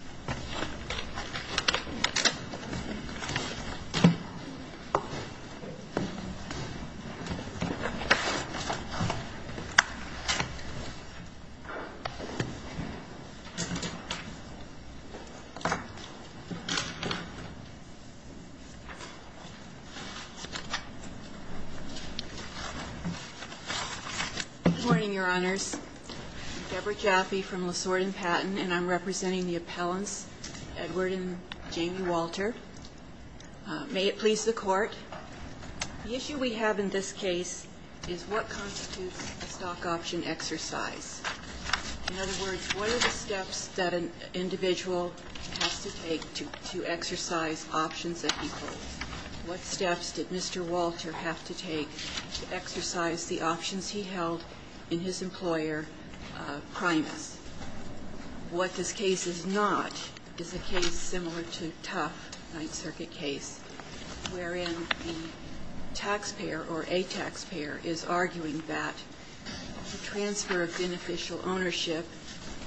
Good morning, Your Honors. I'm Deborah Jaffe from Lasorda and Patton, and I'm representing the appellants, Edward and Jamie Walter. May it please the Court, the issue we have in this case is what constitutes a stock option exercise. In other words, what are the steps that an individual has to take to exercise options that he holds? What steps did Mr. Walter have to take to exercise the options he held in his employer, Primus? What this case is not is a case similar to Tuff, Ninth Circuit case, wherein the taxpayer or a taxpayer is arguing that the transfer of beneficial ownership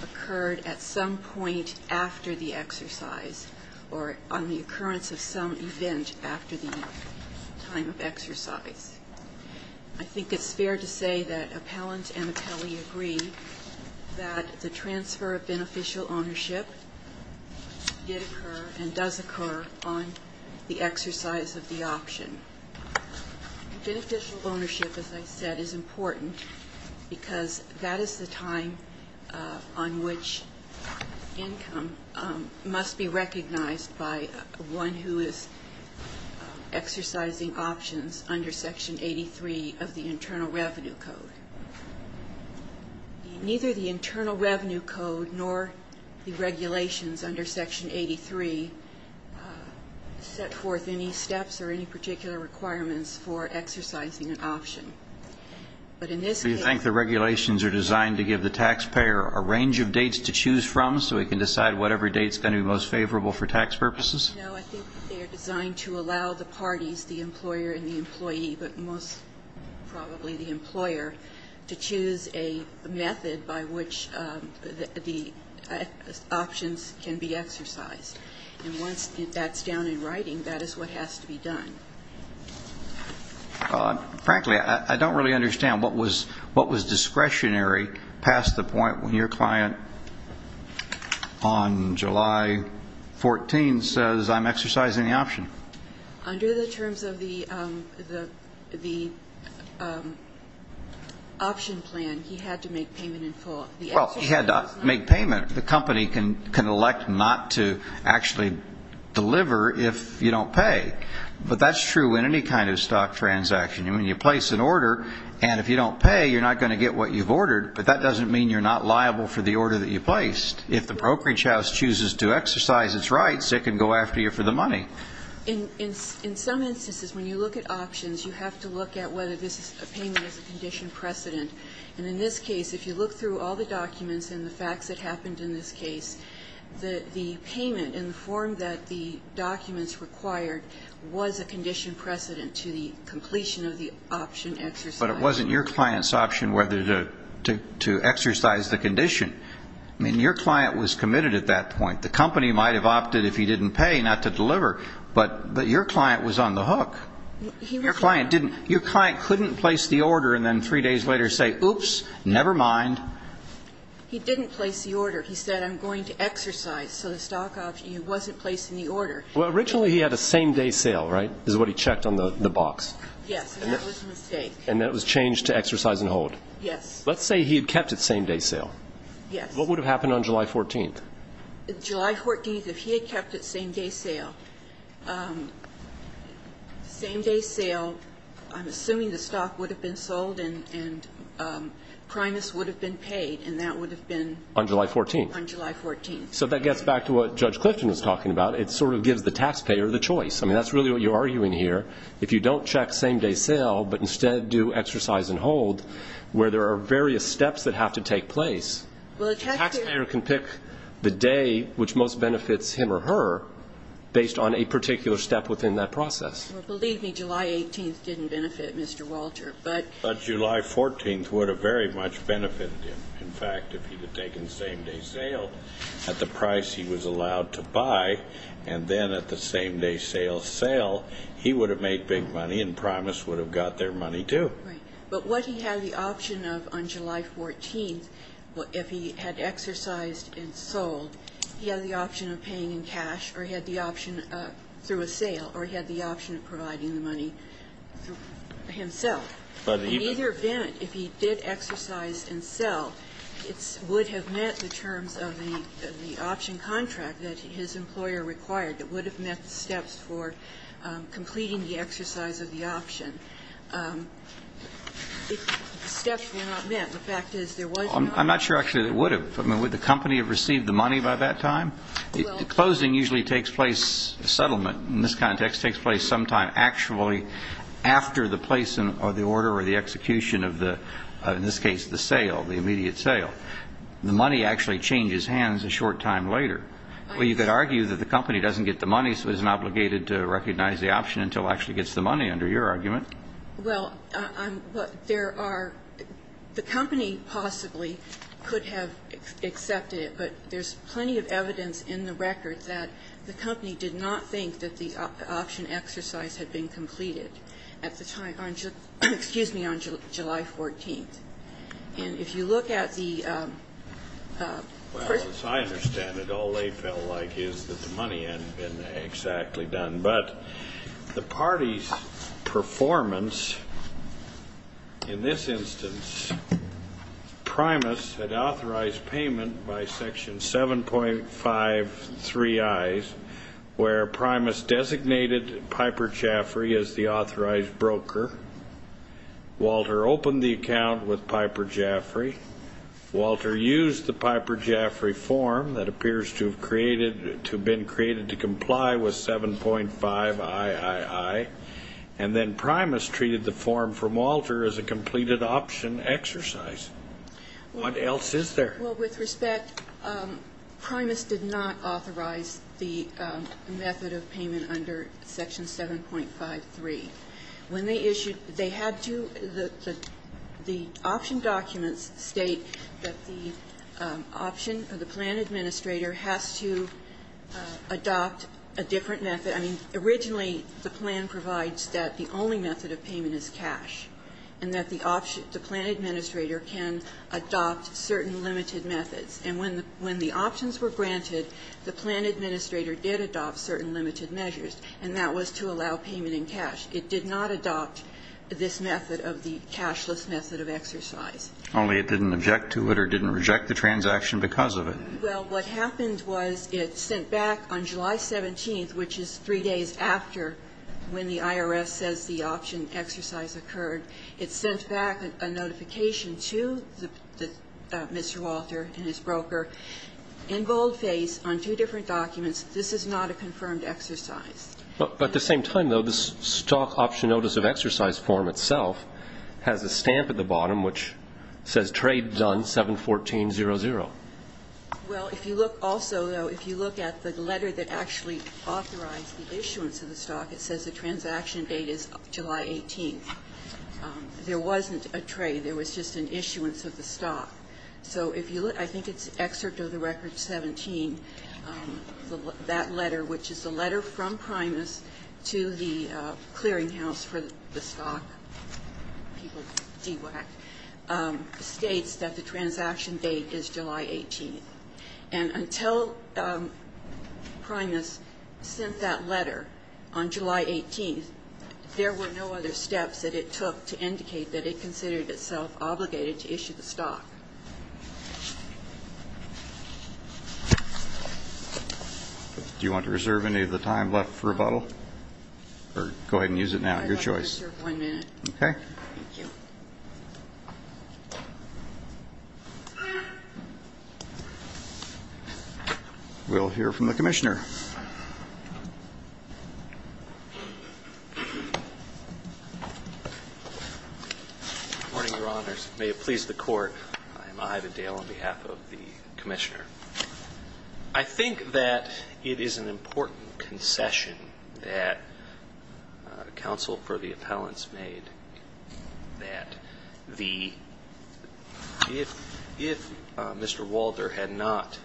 occurred at some point after the exercise or on the occurrence of some event after the time of exercise. I think it's fair to say that appellant and appellee agree that the transfer of beneficial ownership did occur and does occur on the exercise of the option. Beneficial ownership, as I said, is important because that is the time on which income must be recognized by one who is exercising options under Section 83 of the Internal Revenue Code. Neither the Internal Revenue Code nor the regulations under Section 83 set forth any steps or any particular requirements for exercising an option. But in this case... Do you think the regulations are designed to give the taxpayer a range of dates to choose from so he can decide whatever date is going to be most favorable for tax purposes? No, I think they are designed to allow the parties, the employer and the employee, but most probably the employer, to choose a method by which the options can be exercised. And once that's down in writing, that is what has to be done. Frankly, I don't really understand what was discretionary past the point when your client on July 14 says, I'm exercising the option. Under the terms of the option plan, he had to make payment in full. Well, he had to make payment. The company can elect not to actually deliver if you don't pay. But that's true in any kind of stock transaction. You place an order, and if you don't pay, you're not going to get what you've ordered. But that order that you placed, if the brokerage house chooses to exercise its rights, it can go after you for the money. In some instances, when you look at options, you have to look at whether this is a payment as a condition precedent. And in this case, if you look through all the documents and the facts that happened in this case, the payment in the form that the documents required was a condition precedent to the completion of the option exercise. But it wasn't your client's option whether to exercise the condition. I mean, your client was committed at that point. The company might have opted, if he didn't pay, not to deliver. But your client was on the hook. Your client couldn't place the order and then three days later say, oops, never mind. He didn't place the order. He said, I'm going to exercise. So the stock option, he wasn't placing the order. Well, originally, he had a same-day and hold. Yes. Let's say he had kept its same-day sale. Yes. What would have happened on July 14th? July 14th, if he had kept its same-day sale, same-day sale, I'm assuming the stock would have been sold and Primus would have been paid. And that would have been... On July 14th. On July 14th. So that gets back to what Judge Clifton was talking about. It sort of gives the taxpayer the choice. I mean, that's really what you're arguing here. If you don't check same-day sale, but instead do exercise and hold, where there are various steps that have to take place, the taxpayer can pick the day which most benefits him or her based on a particular step within that process. Well, believe me, July 18th didn't benefit Mr. Walter, but... But July 14th would have very much benefited him. In fact, if he had taken same-day sale at the price he was allowed to buy, and then at the same-day sale sell, he would have made big money and Primus would have got their money, too. Right. But what he had the option of on July 14th, if he had exercised and sold, he had the option of paying in cash, or he had the option through a sale, or he had the option of providing the money himself. In either event, if he did exercise and sell, it would have met the terms of the option contract that his employer required that would have met the steps for completing the exercise of the option. The steps were not met. The fact is, there was no... I'm not sure, actually, that it would have. I mean, would the company have received the money by that time? Well... Closing usually takes place, a settlement in this context, takes place sometime actually after the place or the order or the execution of the, in this case, the sale, the immediate sale. The money actually changes hands a short time later. Well, you could argue that the company doesn't get the money, so it isn't obligated to recognize the option until it actually gets the money, under your argument. Well, there are... The company possibly could have accepted it, but there's plenty of evidence in the record that the company did not think that the option exercise had been completed at the time, on July, excuse me, on July 14th. And if you look at the... Well, as I understand it, all they felt like is that the money hadn't been exactly done. But the party's performance, in this instance, Primus had authorized payment by Section 7.5.3.i, where Primus designated Piper Jaffray as the authorized broker. Walter opened the account with Piper Jaffray. Walter used the Piper Jaffray form that appears to have created, to have been created to comply with 7.5.i.i.i. And then Primus treated the form from Walter as a completed option exercise. What else is there? Well, with respect, Primus did not authorize the method of payment under Section 7.5.3. When they issued, they had to, the option documents state that the option, or the plan administrator has to adopt a different method. I mean, originally, the plan provides that the only method of payment is cash, and that the option, the plan administrator can adopt certain limited methods. And when the options were granted, the plan administrator did adopt certain limited measures, and that was to allow payment in cash. It did not adopt this method of the cashless method of exercise. Only it didn't object to it or didn't reject the transaction because of it. Well, what happened was it sent back on July 17th, which is three days after when the IRS says the option exercise occurred, it sent back a notification to Mr. Walter and his firm to exercise. But at the same time, though, the stock option notice of exercise form itself has a stamp at the bottom which says trade done 7-14-00. Well, if you look also, though, if you look at the letter that actually authorized the issuance of the stock, it says the transaction date is July 18th. There wasn't a trade. There was just an issuance of the stock. So if you look, I think it's excerpt of the Record 17, that letter, which is the letter from Primus to the clearinghouse for the stock, people DWAC, states that the transaction date is July 18th. And until Primus sent that letter on July 18th, there were no other steps that it took to indicate that it considered itself obligated to issue the stock. Do you want to reserve any of the time left for rebuttal? Or go ahead and use it now. Your choice. I'd like to reserve one minute. Okay. Thank you. We'll hear from the Commissioner. Good morning, Your Honors. May it please the Court, I'm Ida Dale on behalf of the Commissioner. I think that it is an important concession that counsel for the appellants made that the, if Mr. Walter had not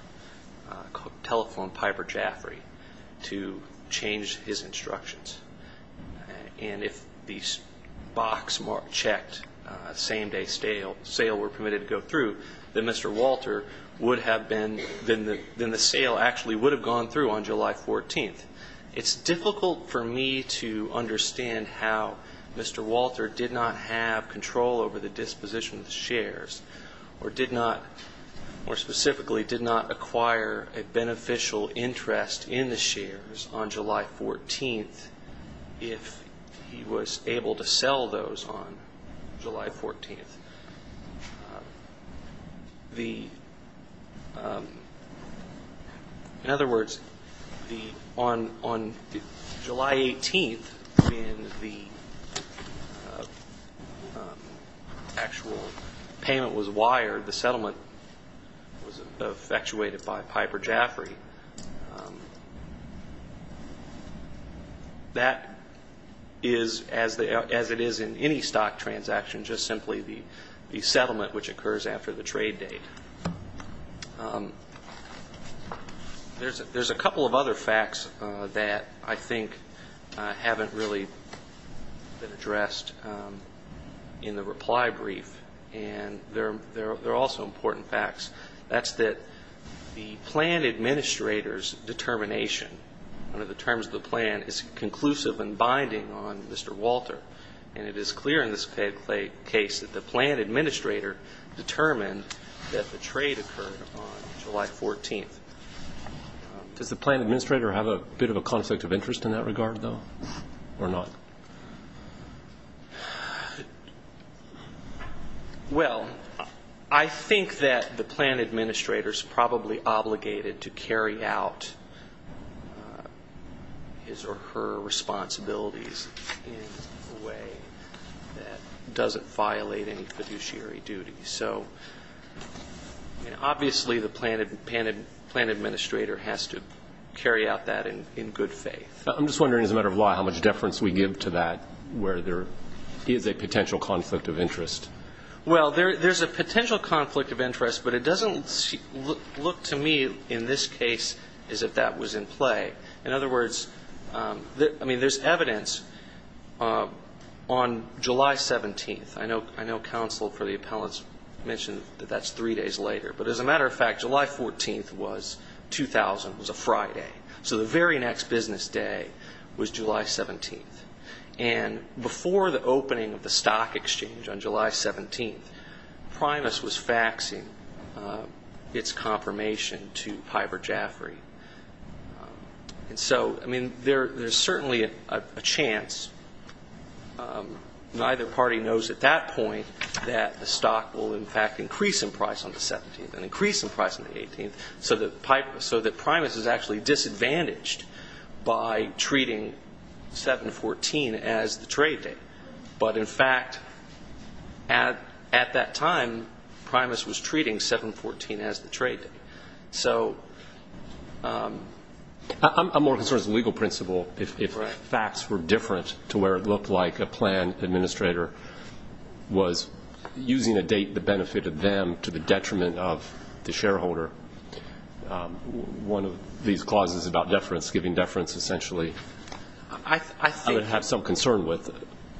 telephoned Piper Jaffray to change his instructions, and if the box marked checked, same day sale were permitted to go through, then Mr. Walter would have been, then the sale actually would have gone through on July 14th. It's difficult for me to understand how Mr. Walter did not have control over the disposition of the shares, or did not, more specifically, did not acquire a beneficial interest in the shares on July 14th if he was able to sell those on July 14th. In other words, on July 18th, when the actual payment was wired, the settlement was effectuated by Piper Jaffray. That is, as it is in any stock transaction, just simply the amount which occurs after the trade date. There's a couple of other facts that I think haven't really been addressed in the reply brief, and they're also important facts. That's that the plan administrator's determination under the terms of the plan is conclusive and binding on Mr. Walter, and it is clear in this case that the plan administrator determined that the trade occurred on July 14th. Does the plan administrator have a bit of a conflict of interest in that regard, though? Well, I think that the plan administrator's probably obligated to carry out his or her duties in a manner that doesn't violate any fiduciary duties. So, I mean, obviously, the plan administrator has to carry out that in good faith. I'm just wondering, as a matter of law, how much deference we give to that, where there is a potential conflict of interest. Well, there's a potential conflict of interest, but it doesn't look to me, in this case, as if that was in play. In other words, I mean, there's evidence on July 17th. I know counsel for the appellants mentioned that that's three days later, but as a matter of fact, July 14th was 2000, was a Friday. So the very next business day was July 17th. And before the opening of the stock exchange on July 17th, Primus was faxing its confirmation to Piper Jaffray. And so, I mean, there's certainly a chance. Neither party knows at that point that the stock will, in fact, increase in price on the 17th and increase in price on the 18th, so that Primus is actually disadvantaged by treating 7-14 as the trade date. But in fact, at that time, Primus was treating 7-14 as the trade date. I'm more concerned as a legal principle if facts were different to where it looked like a plan administrator was using a date that benefited them to the detriment of the shareholder. One of these clauses about deference, giving deference, essentially, I would have some concern with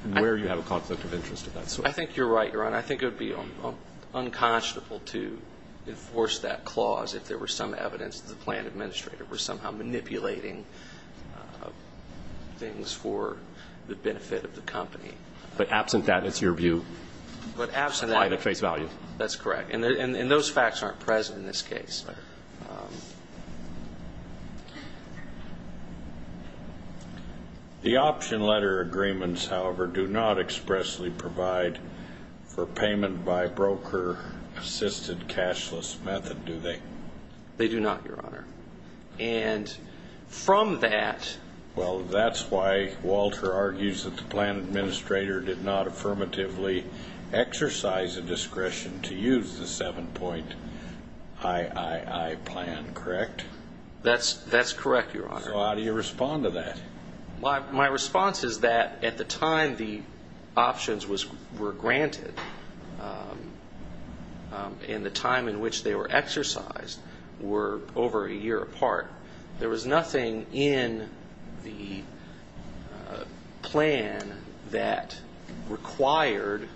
where you have a conflict of interest in that. I think you're right, Your Honor. I think it would be unconscionable to enforce that clause if there were some evidence that the plan administrator was somehow manipulating things for the benefit of the company. But absent that, it's your view, apply the face value. That's correct. And those facts aren't present in this case. Yes, sir. The option letter agreements, however, do not expressly provide for payment by broker assisted cashless method, do they? They do not, Your Honor. And from that... Well, that's why Walter argues that the plan administrator did not affirmatively exercise a discretion to use the 7.III plan, correct? That's correct, Your Honor. So how do you respond to that? My response is that at the time the options were granted and the time in which they were exercised were over a year apart, there was nothing in the plan that required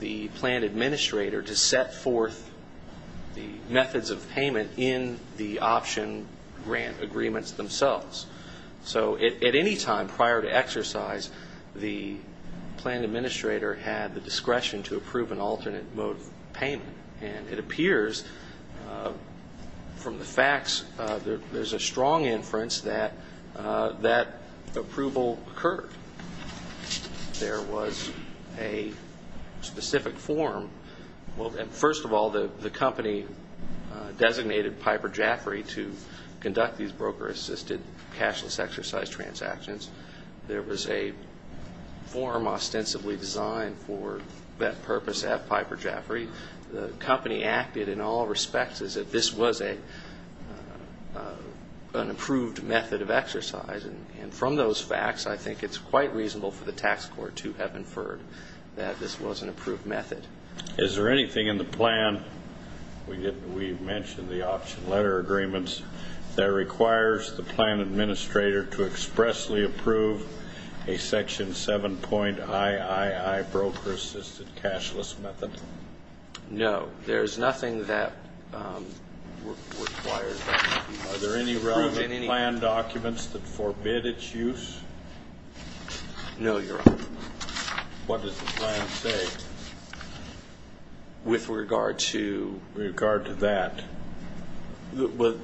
the option plan administrator to set forth the methods of payment in the option grant agreements themselves. So at any time prior to exercise, the plan administrator had the discretion to approve an alternate mode of payment. And it appears from the facts there's a strong inference that that approval occurred. There was a specific form. Well, first of all, the company designated Piper Jaffray to conduct these broker assisted cashless exercise transactions. There was a form ostensibly designed for that purpose at Piper Jaffray. The company acted in all respects as if this was an approved method of exercise. And from those facts, I think it's quite reasonable for the tax court to have inferred that this was an approved method. Is there anything in the plan, we mentioned the option letter agreements, that requires the plan administrator to expressly approve a section 7.III broker assisted cashless method? No. There's nothing that requires that. Are there any relevant plan documents that forbid its use? No, Your Honor. What does the plan say? With regard to? With regard to that. The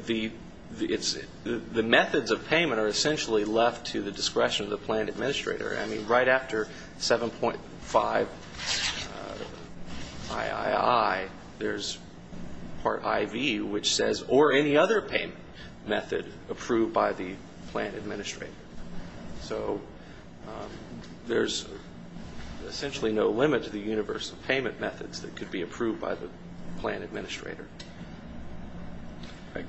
methods of payment are essentially left to the discretion of the plan administrator. I mean, right after 7.5 III, there's part IV, which says, or any other payment method approved by the plan administrator. So there's essentially no limit to the universe of payment methods that could be approved by the plan administrator. Thank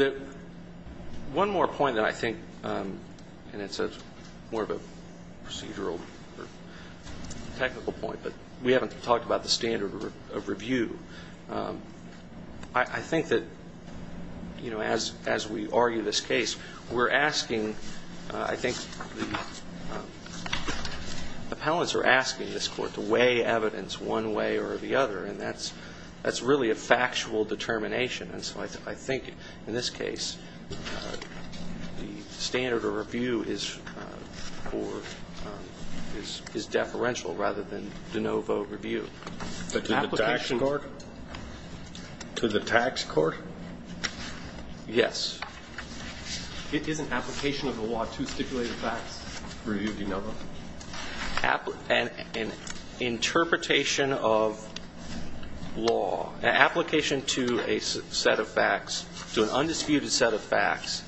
you. One more point that I think, and it's more of a procedural or technical point, but we haven't talked about the standard of review. I think that, you know, as we argue this case, we're asking, I think the appellants are asking this court to weigh evidence one way or the other, and that's really a factual determination. And so I think in this case, the standard of review is deferential rather than de novo review. But to the tax court? Yes. Isn't application of the law to stipulate facts review de novo? An interpretation of law, an application to a set of facts, to an undisputed set of facts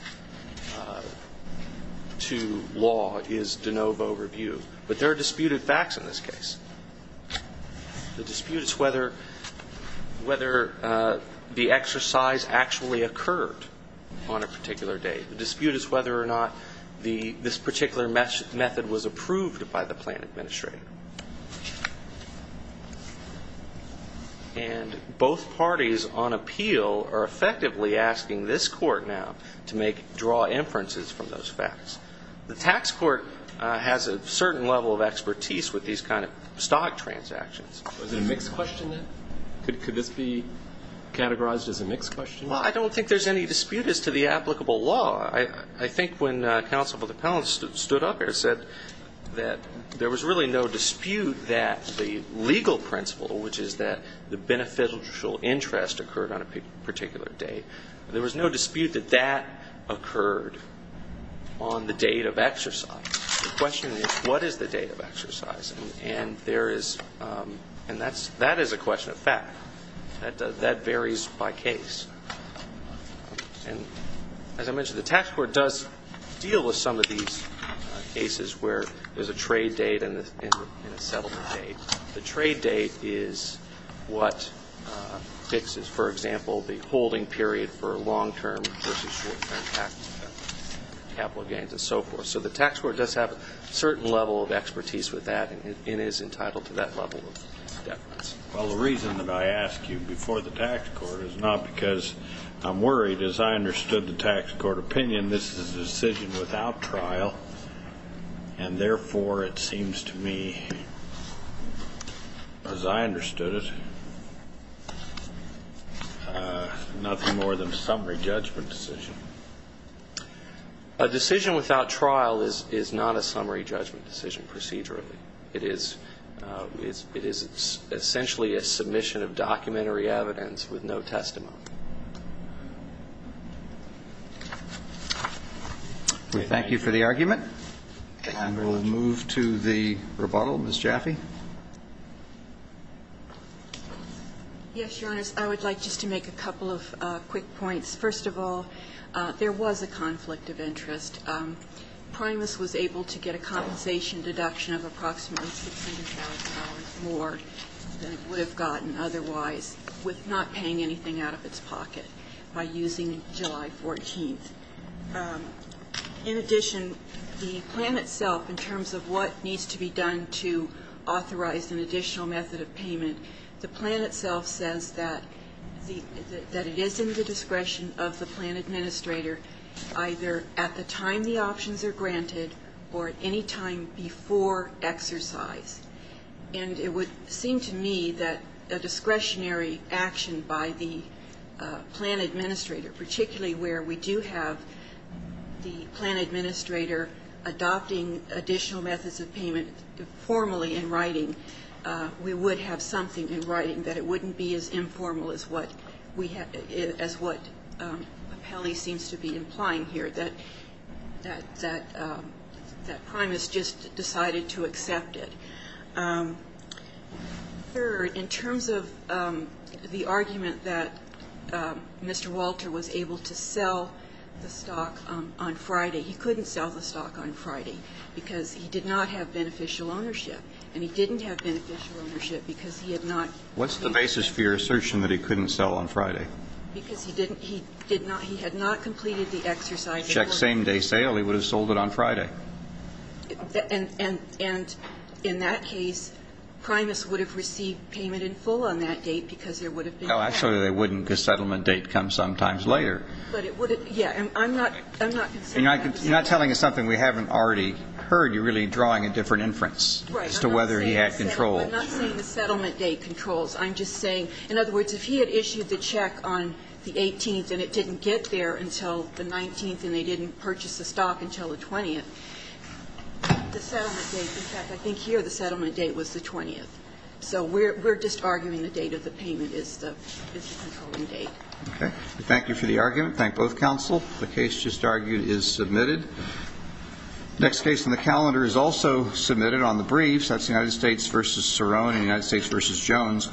to law is de novo review. But there are disputed facts in this case. The dispute is whether the exercise actually occurred on a particular date. The dispute is whether or not this particular method was approved by the plan administrator. And both parties on appeal are effectively asking this court now to make, draw inferences from those facts. The tax court has a certain level of expertise with these kind of stock transactions. Was it a mixed question then? Could this be categorized as a mixed question? Well, I don't think there's any dispute as to the applicable law. I think when counsel with appellants stood up here and said that there was really no dispute that the legal principle, which is that the beneficial interest occurred on a particular date, there was no dispute that that occurred on the date of exercise. The question is, what is the date of exercise? And there is, and that is a question of fact. That varies by case. And as I mentioned, the tax court does deal with some of these cases where there's a trade date and a settlement date. The trade date is what fixes, for example, the holding period for long-term versus short-term capital gains and so forth. So the tax court does have a certain level of expertise with that and is entitled to that level of deference. Well, the reason that I ask you before the tax court is not because I'm worried, as I understood the tax court opinion, this is a decision without trial, and therefore, it seems to me, as I understood it, nothing more than a summary judgment decision. A decision without trial is not a summary judgment decision procedurally. It is essentially a submission of documentary evidence with no testimony. We thank you for the argument. And we'll move to the rebuttal. Ms. Jaffe? Yes, Your Honors. I would like just to make a couple of quick points. First of all, there was a conflict of interest. Primus was able to get a compensation deduction of approximately $600,000 more than it would have gotten otherwise with not paying anything out of its pocket by using July 14th. In addition, the plan itself, in terms of what needs to be done to authorize an additional method of payment, the plan itself says that it is in the discretion of the plan administrator either at the time the options are granted or at any time before exercise. And it would seem to me that a discretionary action by the plan administrator, particularly where we do have the plan administrator adopting additional methods of payment formally in writing, we would have something in writing that it wouldn't be as informal as what Papelli seems to be implying here, that Primus just decided to adopt additional methods of payment. So I would like just to make a couple of quick points. First of all, there was a $600,000 more than it would have gotten otherwise with not paying anything out of its pocket by using July 14th. And it would seem to me that a discretionary action by the plan administrator, in that case, Primus would have received payment in full on that date, because there would have been cash. No, actually, they wouldn't, because settlement date comes sometimes later. But it would have been, yeah. I'm not considering that. You're not telling us something we haven't already heard. You're really drawing a different inference as to whether he had control. Right. I'm not saying the settlement date controls. I'm just saying, in other words, if he had issued the check on the 18th and it didn't get there until the 19th and they didn't purchase the stock until the 20th, the settlement date was the 20th. So we're just arguing the date of the payment is the controlling date. Okay. Thank you for the argument. Thank both counsel. The case just argued is submitted. Next case on the calendar is also submitted on the briefs. That's the United States v. Cerrone and the United States v. Jones.